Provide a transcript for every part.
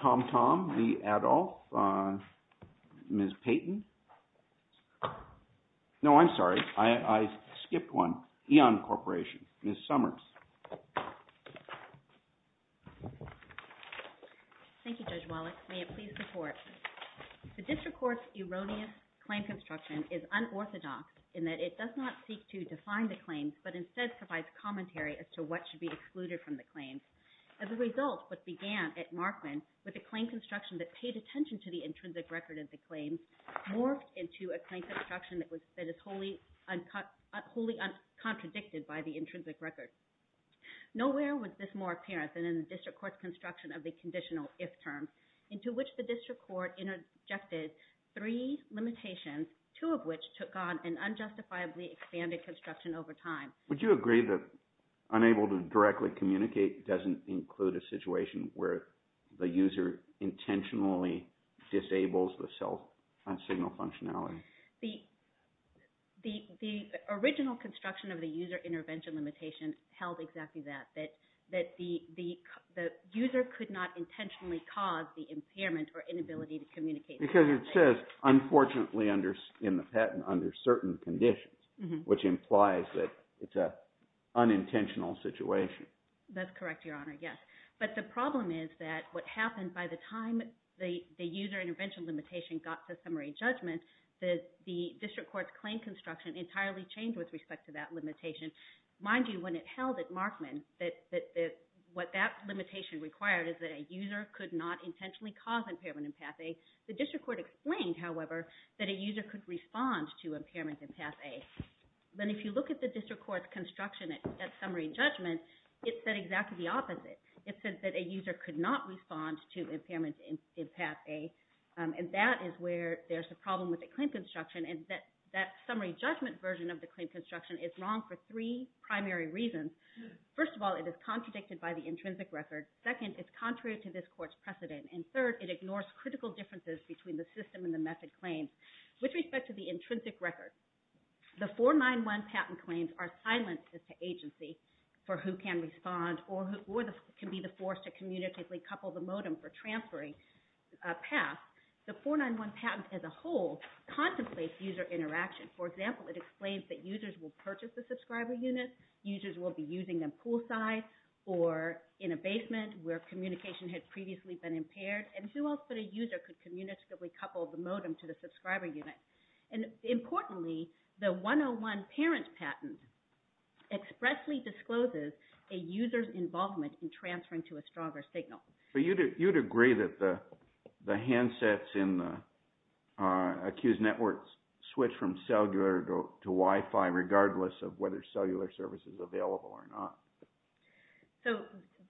Tom Tom, the adult, Ms. Payton, no, I'm sorry, I skipped one, Eon Corporation, Ms. Summers. Thank you, Judge Wallach. May it please the Court. The District Court's erroneous claim construction is unorthodox in that it does not seek to define the claims but instead provides commentary as to what should be excluded from the claims. As a result, what began at Markman, with a claim construction that paid attention to the intrinsic record of the claim, morphed into a claim construction that is wholly contradicted by the intrinsic record. Nowhere was this more apparent than in the District Court's construction of the conditional if-terms, into which the District Court interjected three limitations, two of which took on an unjustifiably expanded construction over time. Would you agree that unable to directly communicate doesn't include a situation where the user intentionally disables the self-signal functionality? The original construction of the user intervention limitation held exactly that, that the user could not intentionally cause the impairment or inability to communicate. Because it says, unfortunately in the patent, under certain conditions, which implies that it's an unintentional situation. That's correct, Your Honor, yes. But the problem is that what happened by the time the user intervention limitation got to summary judgment, the District Court's claim construction entirely changed with respect to that limitation. Mind you, when it held at Markman, what that limitation required is that a user could not intentionally cause impairment in Path A. The District Court explained, however, that a user could respond to impairment in Path A. Then if you look at the District Court's construction at summary judgment, it said exactly the opposite. It said that a user could not respond to impairment in Path A, and that is where there's a problem with the claim construction, and that summary judgment version of the claim construction is wrong for three primary reasons. First of all, it is contradicted by the intrinsic record. Second, it's contrary to this court's precedent. And third, it ignores critical differences between the system and the method claims with respect to the intrinsic record. The 491 patent claims are silent as to agency for who can respond or can be the force to communicatively couple the modem for transferring a path. The 491 patent as a whole contemplates user interaction. For example, it explains that users will purchase a subscriber unit, users will be using them poolside or in a basement where communication had previously been impaired, and who else but a user could communicatively couple the modem to the subscriber unit. And importantly, the 101 parent patent expressly discloses a user's involvement in transferring to a stronger signal. But you'd agree that the handsets in the accused network switch from cellular to Wi-Fi regardless of whether cellular service is available or not. So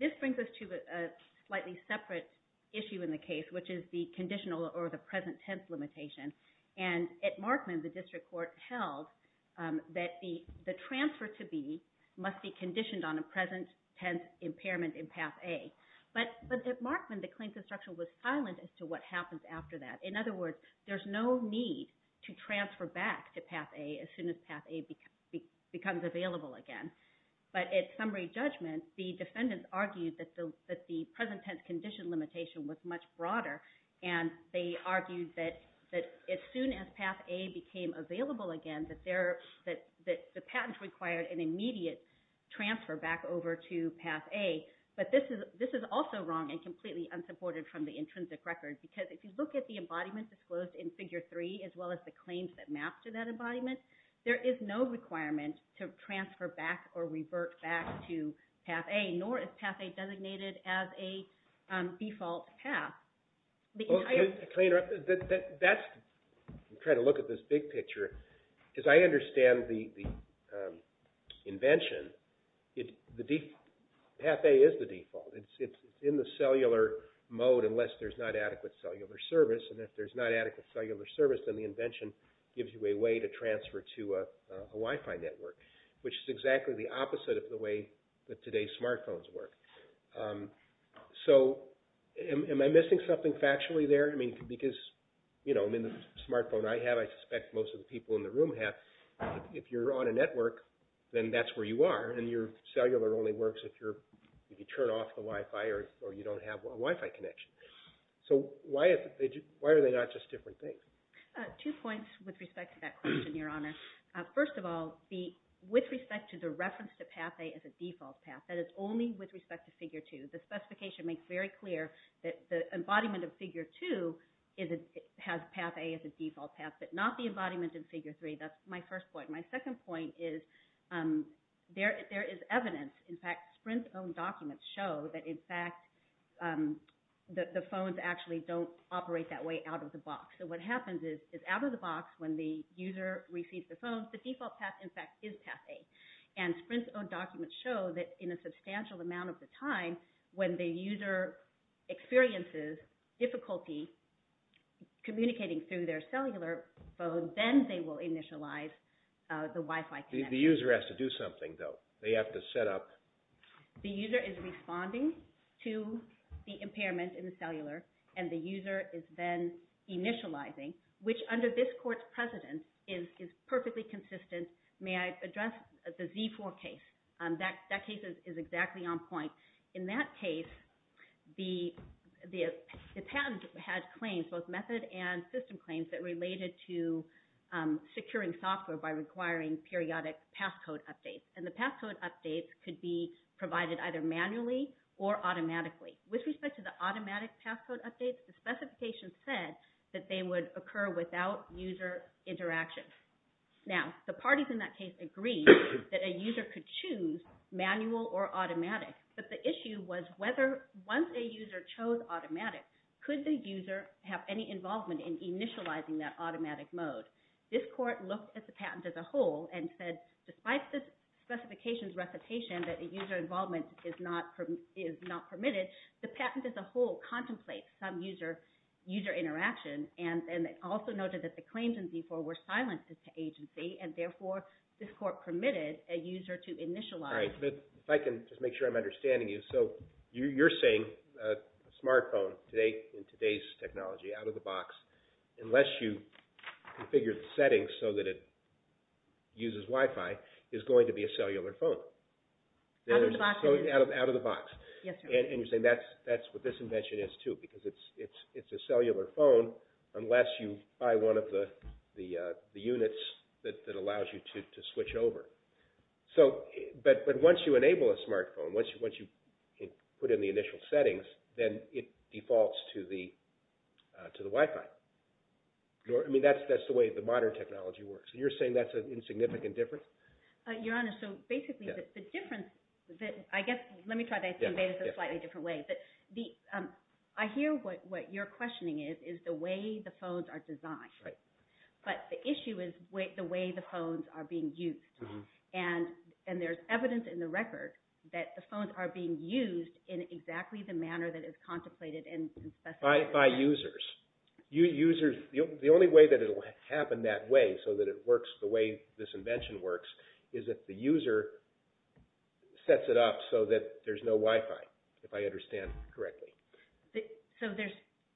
this brings us to a slightly separate issue in the case, which is the conditional or the present tense limitation. And at Markman, the district court held that the transfer to B must be conditioned on a present tense impairment in path A. But at Markman, the claims instruction was silent as to what happens after that. In other words, there's no need to transfer back to path A as soon as path A becomes available again. But at summary judgment, the defendants argued that the present tense condition limitation was much broader and they argued that as soon as path A became available again, the patent required an immediate transfer back over to path A. But this is also wrong and completely unsupported from the intrinsic record. Because if you look at the embodiment disclosed in figure three, as well as the claims that map to that embodiment, there is no requirement to transfer back or revert back to path A, nor is path A designated as a default path. I'm trying to look at this big picture. As I understand the invention, path A is the same as path B, unless there's not adequate cellular service. And if there's not adequate cellular service, then the invention gives you a way to transfer to a Wi-Fi network, which is exactly the opposite of the way that today's smartphones work. So am I missing something factually there? I mean, because the smartphone I have, I suspect most of the people in the room have, if you're on a network, then that's where you are. And your cellular only works if you turn off the Wi-Fi or you don't have a Wi-Fi connection. So why are they not just different things? Two points with respect to that question, Your Honor. First of all, with respect to the reference to path A as a default path, that is only with respect to figure two. The specification makes very clear that the embodiment of figure two has path A as a default path, but not the embodiment in figure three. That's my first point. My second point is there is evidence. In fact, Sprint's own documents show that, in fact, the phones actually don't operate that way out of the box. So what happens is, out of the box, when the user receives the phone, the default path, in fact, is path A. And Sprint's own documents show that in a substantial amount of the time, when the user experiences difficulty communicating through their cellular phone, then they will initialize the Wi-Fi connection. The user has to do something, though. They have to set up. The user is responding to the impairment in the cellular, and the user is then initializing, which, under this court's precedent, is perfectly consistent. May I address the Z4 case? That patent had claims, both method and system claims, that related to securing software by requiring periodic passcode updates. And the passcode updates could be provided either manually or automatically. With respect to the automatic passcode updates, the specification said that they would occur without user interaction. Now, the parties in that case agreed that a user could choose manual or automatic, but the issue was whether, once a user chose automatic, could the user have any involvement in initializing that automatic mode. This court looked at the patent as a whole and said, despite the specification's recitation that a user involvement is not permitted, the patent as a whole contemplates some user interaction, and also noted that the claims in Z4 were silenced to agency, and therefore this court permitted a user to initialize. All right. If I can just make sure I'm understanding you. So you're saying a smartphone today, in today's technology, out of the box, unless you configure the settings so that it uses Wi-Fi, is going to be a cellular phone. Out of the box. Out of the box. Yes, sir. And you're saying that's what this invention is, too, because it's a cellular phone unless you buy one of the units that allows you to switch over. But once you enable a smartphone, once you put in the initial settings, then it defaults to the Wi-Fi. I mean, that's the way the modern technology works. You're saying that's an insignificant difference? Your Honor, so basically the difference that I guess, let me try to convey this in a slightly different way, but I hear what your questioning is, is the way the phones are designed. Right. But the issue is the way the phones are being used. And there's evidence in the record that the phones are being used in exactly the manner that is contemplated and specified. By users. The only way that it will happen that way, so that it works the way this invention works, is if the user sets it up so that there's no Wi-Fi, if I understand correctly. So there's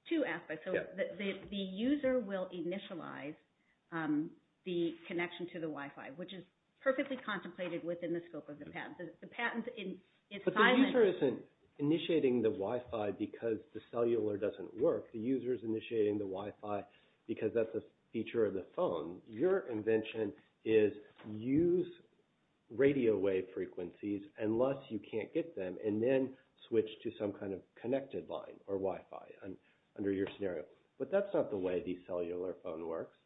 two aspects. Yes. The user will initialize the connection to the Wi-Fi, which is perfectly contemplated within the scope of the patent. The patent is silent. But the user isn't initiating the Wi-Fi because the cellular doesn't work. The user is initiating the Wi-Fi because that's a feature of the phone. Your invention is use radio wave frequencies unless you can't get them, and then switch to some kind of connected line or Wi-Fi under your scenario. But that's not the way the cellular phone works.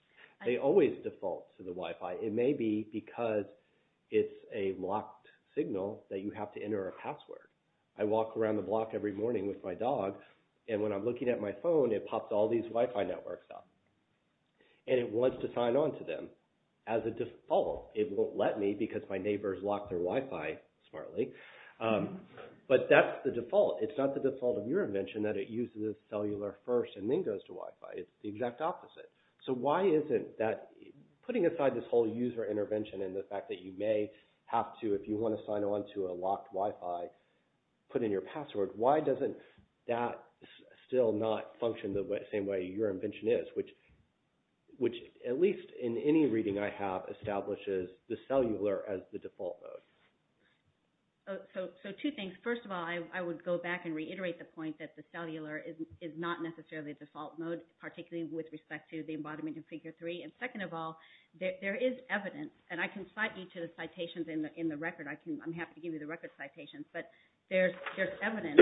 They always default to the Wi-Fi. It may be because it's a locked signal that you have to enter a password. I walk around the block every morning with my dog, and when I'm looking at my phone, it pops all these Wi-Fi networks up. And it wants to sign on to them as a default. It won't let me because my neighbors lock their Wi-Fi smartly. But that's the default. It's not the default of your invention that it uses cellular first and then goes to Wi-Fi. It's the exact opposite. So why isn't that putting aside this whole user intervention and the fact that you may have to, if you want to sign on to a locked Wi-Fi, put in your password, why doesn't that still not function the same way your invention is? Which, at least in any reading I have, establishes the cellular as the default mode. So two things. First of all, I would go back and reiterate the point that the cellular is not necessarily the default mode, particularly with respect to the embodiment in Figure 3. And second of all, there is evidence, and I can cite you to the citations in the record. I'm happy to give you the record citations. But there's evidence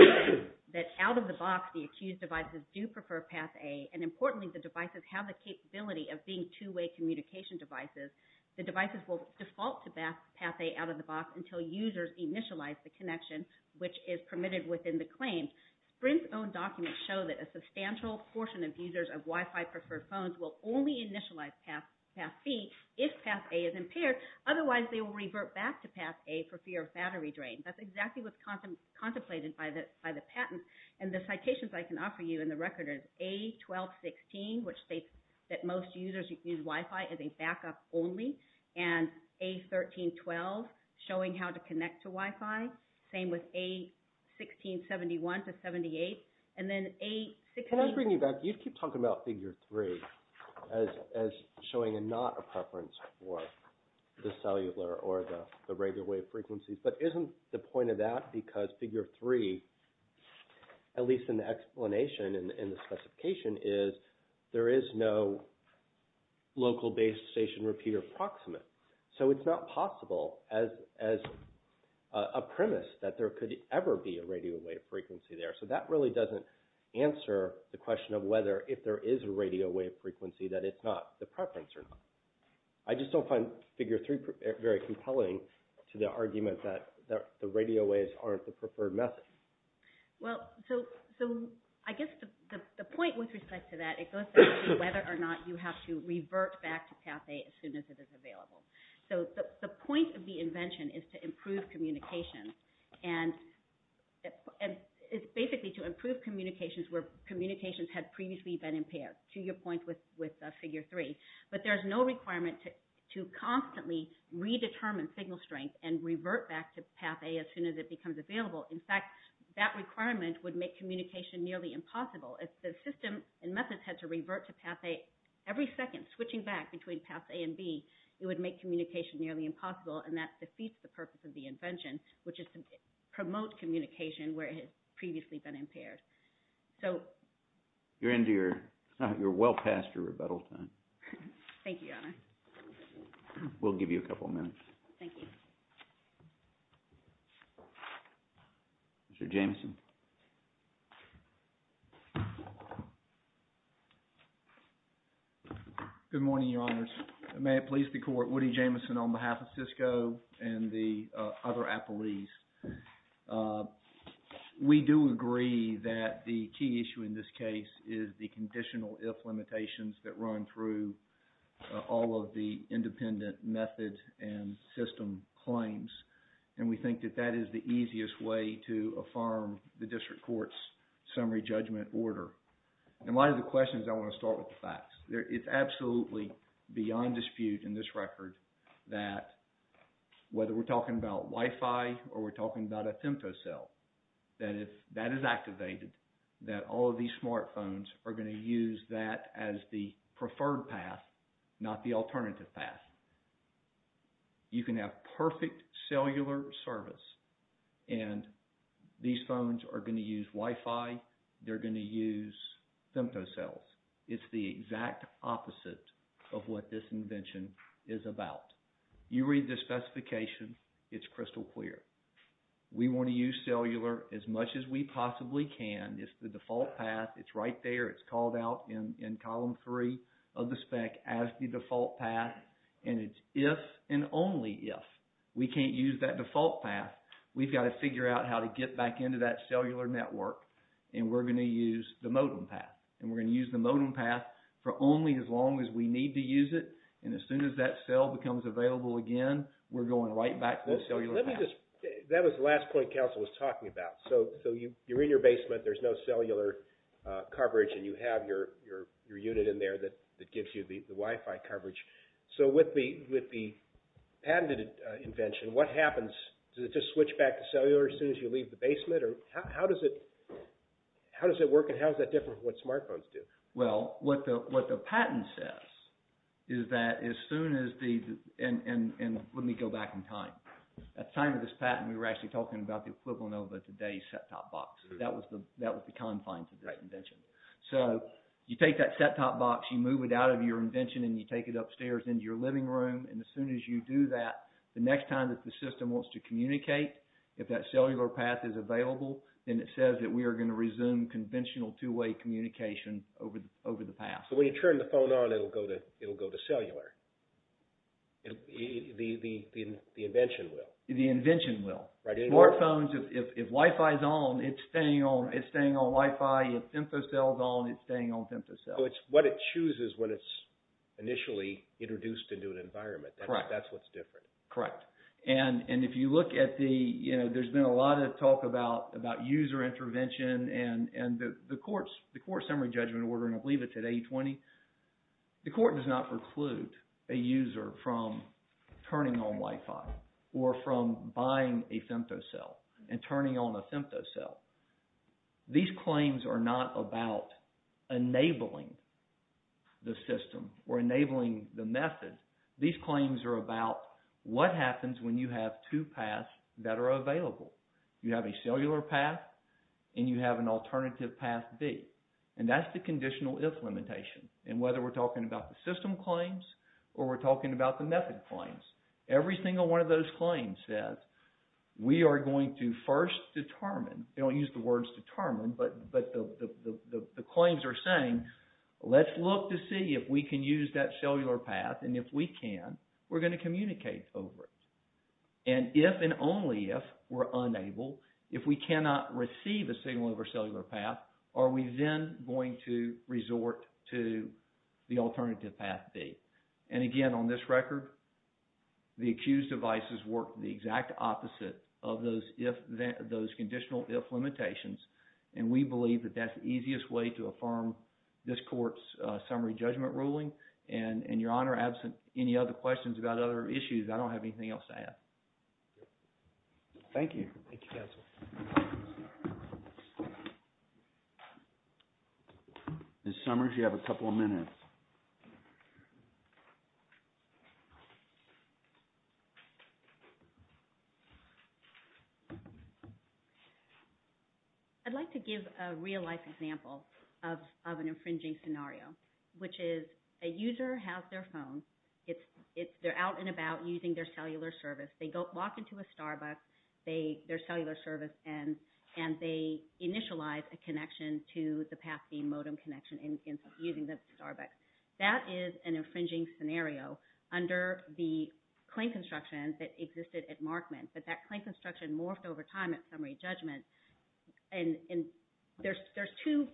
that out-of-the-box, the accused devices do prefer Path A. And importantly, the devices have the capability of being two-way communication devices. The devices will default to Path A out-of-the-box until users initialize the connection, which is permitted within the claim. Sprint's own documents show that a substantial portion of users of Wi-Fi-preferred phones will only initialize Path B if Path A is impaired. Otherwise, they will revert back to Path A for fear of battery drain. That's exactly what's contemplated by the patent. And the citations I can offer you in the record is A1216, which states that most users use Wi-Fi as a backup only. And A1312, showing how to connect to Wi-Fi. Same with A1671 to 78. And then A16... Can I bring you back? You keep talking about Figure 3 as showing a not a preference for the cellular or the radio wave frequencies. But isn't the point of that because Figure 3, at least in the explanation and the specification, is there is no local base station repeater proximate. So it's not possible as a premise that there could ever be a radio wave frequency there. So that really doesn't answer the question of whether, if there is a radio wave frequency, that it's not the preference or not. I just don't find Figure 3 very compelling to the argument that the radio waves aren't the preferred method. Well, so I guess the point with respect to that, it goes back to whether or not you have to revert back to Path A as soon as it is available. So the point of the invention is to improve communication. And it's basically to improve communications where communications had previously been impaired. To your point with Figure 3, but there's no requirement to constantly redetermine signal strength and revert back to Path A as soon as it becomes available. In fact, that requirement would make communication nearly impossible. If the system and methods had to revert to Path A every second, switching back between Path A and B, it would make communication nearly impossible. And that defeats the purpose of the invention, which is to promote communication where it had previously been impaired. You're well past your rebuttal time. Thank you, Your Honor. We'll give you a couple of minutes. Thank you. Mr. Jameson. Good morning, Your Honors. May it please the Court, Woody Jameson on behalf of Cisco and the other appellees. We do agree that the key issue in this case is the conditional if limitations that run through all of the independent method and system claims. And we think that that is the easiest way to affirm the District Court's summary judgment order. And a lot of the questions, I want to start with the facts. It's absolutely beyond dispute in this record that whether we're talking about Wi-Fi or we're talking about a Thymto cell, that if that is activated, that all of these smartphones are going to use that as the preferred path, not the alternative path. You can have perfect cellular service, and these phones are going to use Wi-Fi. They're going to use Thymto cells. It's the exact opposite of what this invention is about. You read the specification. It's crystal clear. We want to use cellular as much as we possibly can. It's the default path. It's right there. It's called out in Column 3 of the spec as the default path, and it's if and only if. We can't use that default path. We've got to figure out how to get back into that cellular network, and we're going to use the modem path. We're going to use the modem path for only as long as we need to use it, and as soon as that cell becomes available again, we're going right back to the cellular path. That was the last point Council was talking about. So you're in your basement. There's no cellular coverage, and you have your unit in there that gives you the Wi-Fi coverage. So with the patented invention, what happens? Does it just switch back to cellular as soon as you leave the basement, or how does it work, and how is that different from what smartphones do? Well, what the patent says is that as soon as the—and let me go back in time. At the time of this patent, we were actually talking about the equivalent of today's set-top box. That was the confines of that invention. So you take that set-top box, you move it out of your invention, and you take it upstairs into your living room, and as soon as you do that, the next time that the system wants to communicate, if that cellular path is available, then it says that we are going to resume conventional two-way communication over the path. So when you turn the phone on, it will go to cellular. The invention will. The invention will. Smartphones, if Wi-Fi is on, it's staying on Wi-Fi. If stem cell is on, it's staying on stem cell. So it's what it chooses when it's initially introduced into an environment. Correct. That's what's different. Correct. And if you look at the—there's been a lot of talk about user intervention and the court's summary judgment order, and I believe it's at 820. The court does not preclude a user from turning on Wi-Fi or from buying a stem cell and turning on a stem cell. These claims are not about enabling the system or enabling the method. These claims are about what happens when you have two paths that are available. You have a cellular path and you have an alternative path B, and that's the conditional if limitation. And whether we're talking about the system claims or we're talking about the method claims, every single one of those claims says we are going to first determine—they don't use the words determine, but the claims are saying let's look to see if we can use that cellular path, and if we can, we're going to communicate over it. And if and only if we're unable, if we cannot receive a signal over cellular path, are we then going to resort to the alternative path B? And again, on this record, the accused devices work the exact opposite of those conditional if limitations, and we believe that that's the easiest way to affirm this court's summary judgment ruling. And, Your Honor, absent any other questions about other issues, I don't have anything else to add. Thank you. Thank you, counsel. I'd like to give a real-life example of an infringing scenario, which is a user has their phone. They're out and about using their cellular service. They walk into a Starbucks. Their cellular service ends, and they initialize a connection to the path B modem connection using the Starbucks. That is an infringing scenario under the claim construction that existed at Markman, but that claim construction morphed over time at summary judgment. And there's two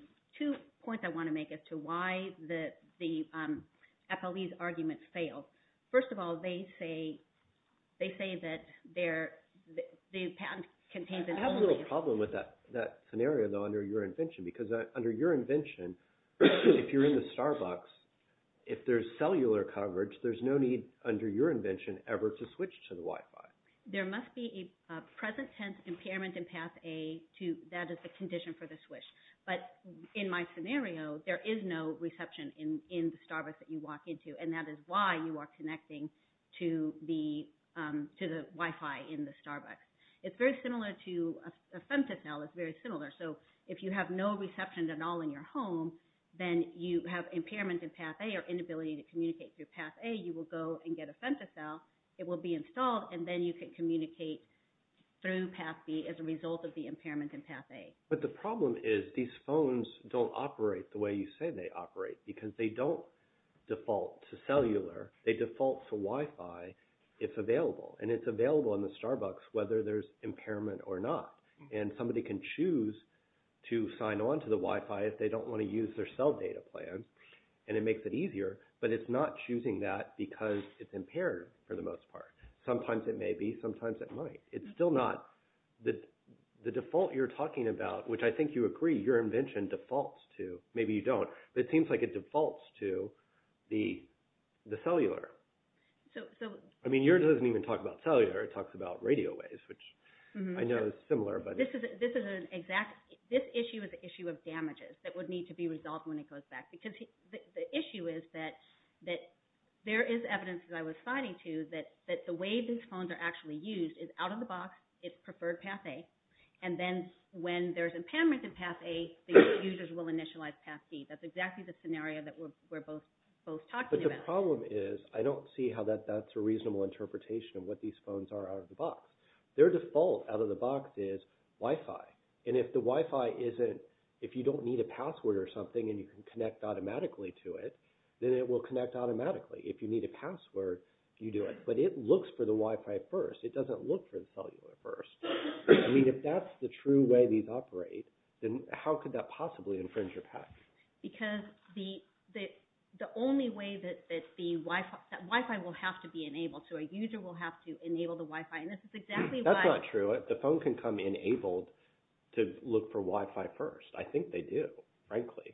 points I want to make as to why the FLE's argument failed. First of all, they say that the patent contains an anomaly. I have a little problem with that scenario, though, under your invention, if you're in the Starbucks, if there's cellular coverage, there's no need under your invention ever to switch to the Wi-Fi. There must be a present tense impairment in path A that is the condition for the switch. But in my scenario, there is no reception in the Starbucks that you walk into, and that is why you are connecting to the Wi-Fi in the Starbucks. It's very similar to a femtocell. It's very similar. So if you have no reception at all in your home, then you have impairment in path A or inability to communicate through path A. You will go and get a femtocell. It will be installed, and then you can communicate through path B as a result of the impairment in path A. But the problem is these phones don't operate the way you say they operate because they don't default to cellular. They default to Wi-Fi if available, and it's available in the Starbucks whether there's impairment or not. And somebody can choose to sign on to the Wi-Fi if they don't want to use their cell data plan, and it makes it easier, but it's not choosing that because it's impaired for the most part. Sometimes it may be. Sometimes it might. It's still not the default you're talking about, which I think you agree your invention defaults to. Maybe you don't, but it seems like it defaults to the cellular. I mean, yours doesn't even talk about cellular. It talks about radio waves, which I know is similar. This issue is an issue of damages that would need to be resolved when it goes back because the issue is that there is evidence, as I was citing to, that the way these phones are actually used is out of the box, it's preferred path A, and then when there's impairment in path A, the users will initialize path B. That's exactly the scenario that we're both talking about. My problem is I don't see how that's a reasonable interpretation of what these phones are out of the box. Their default out of the box is Wi-Fi, and if the Wi-Fi isn't, if you don't need a password or something and you can connect automatically to it, then it will connect automatically. If you need a password, you do it. But it looks for the Wi-Fi first. It doesn't look for the cellular first. I mean, if that's the true way these operate, then how could that possibly infringe your path? Because the only way that the Wi-Fi will have to be enabled, so a user will have to enable the Wi-Fi, and this is exactly why. That's not true. The phone can come enabled to look for Wi-Fi first. I think they do, frankly.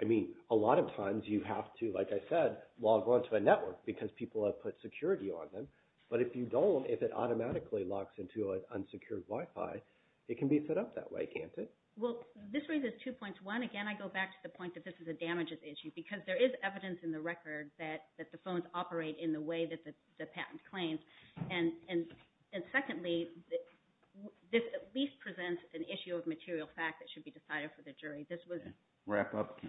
I mean, a lot of times you have to, like I said, log onto a network because people have put security on them. But if you don't, if it automatically locks into an unsecured Wi-Fi, it can be set up that way, can't it? Well, this raises two points. One, again, I go back to the point that this is a damages issue because there is evidence in the record that the phones operate in the way that the patent claims. And secondly, this at least presents an issue of material fact that should be decided for the jury. Wrap up.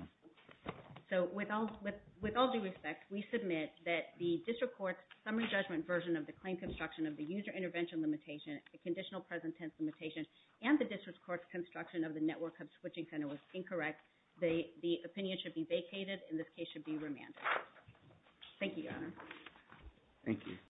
So with all due respect, we submit that the district court's summary judgment version of the claim construction of the user intervention limitation, the conditional present tense limitation, and the district court's construction of the network hub switching center was incorrect. The opinion should be vacated, and this case should be remanded. Thank you, Your Honor. Thank you.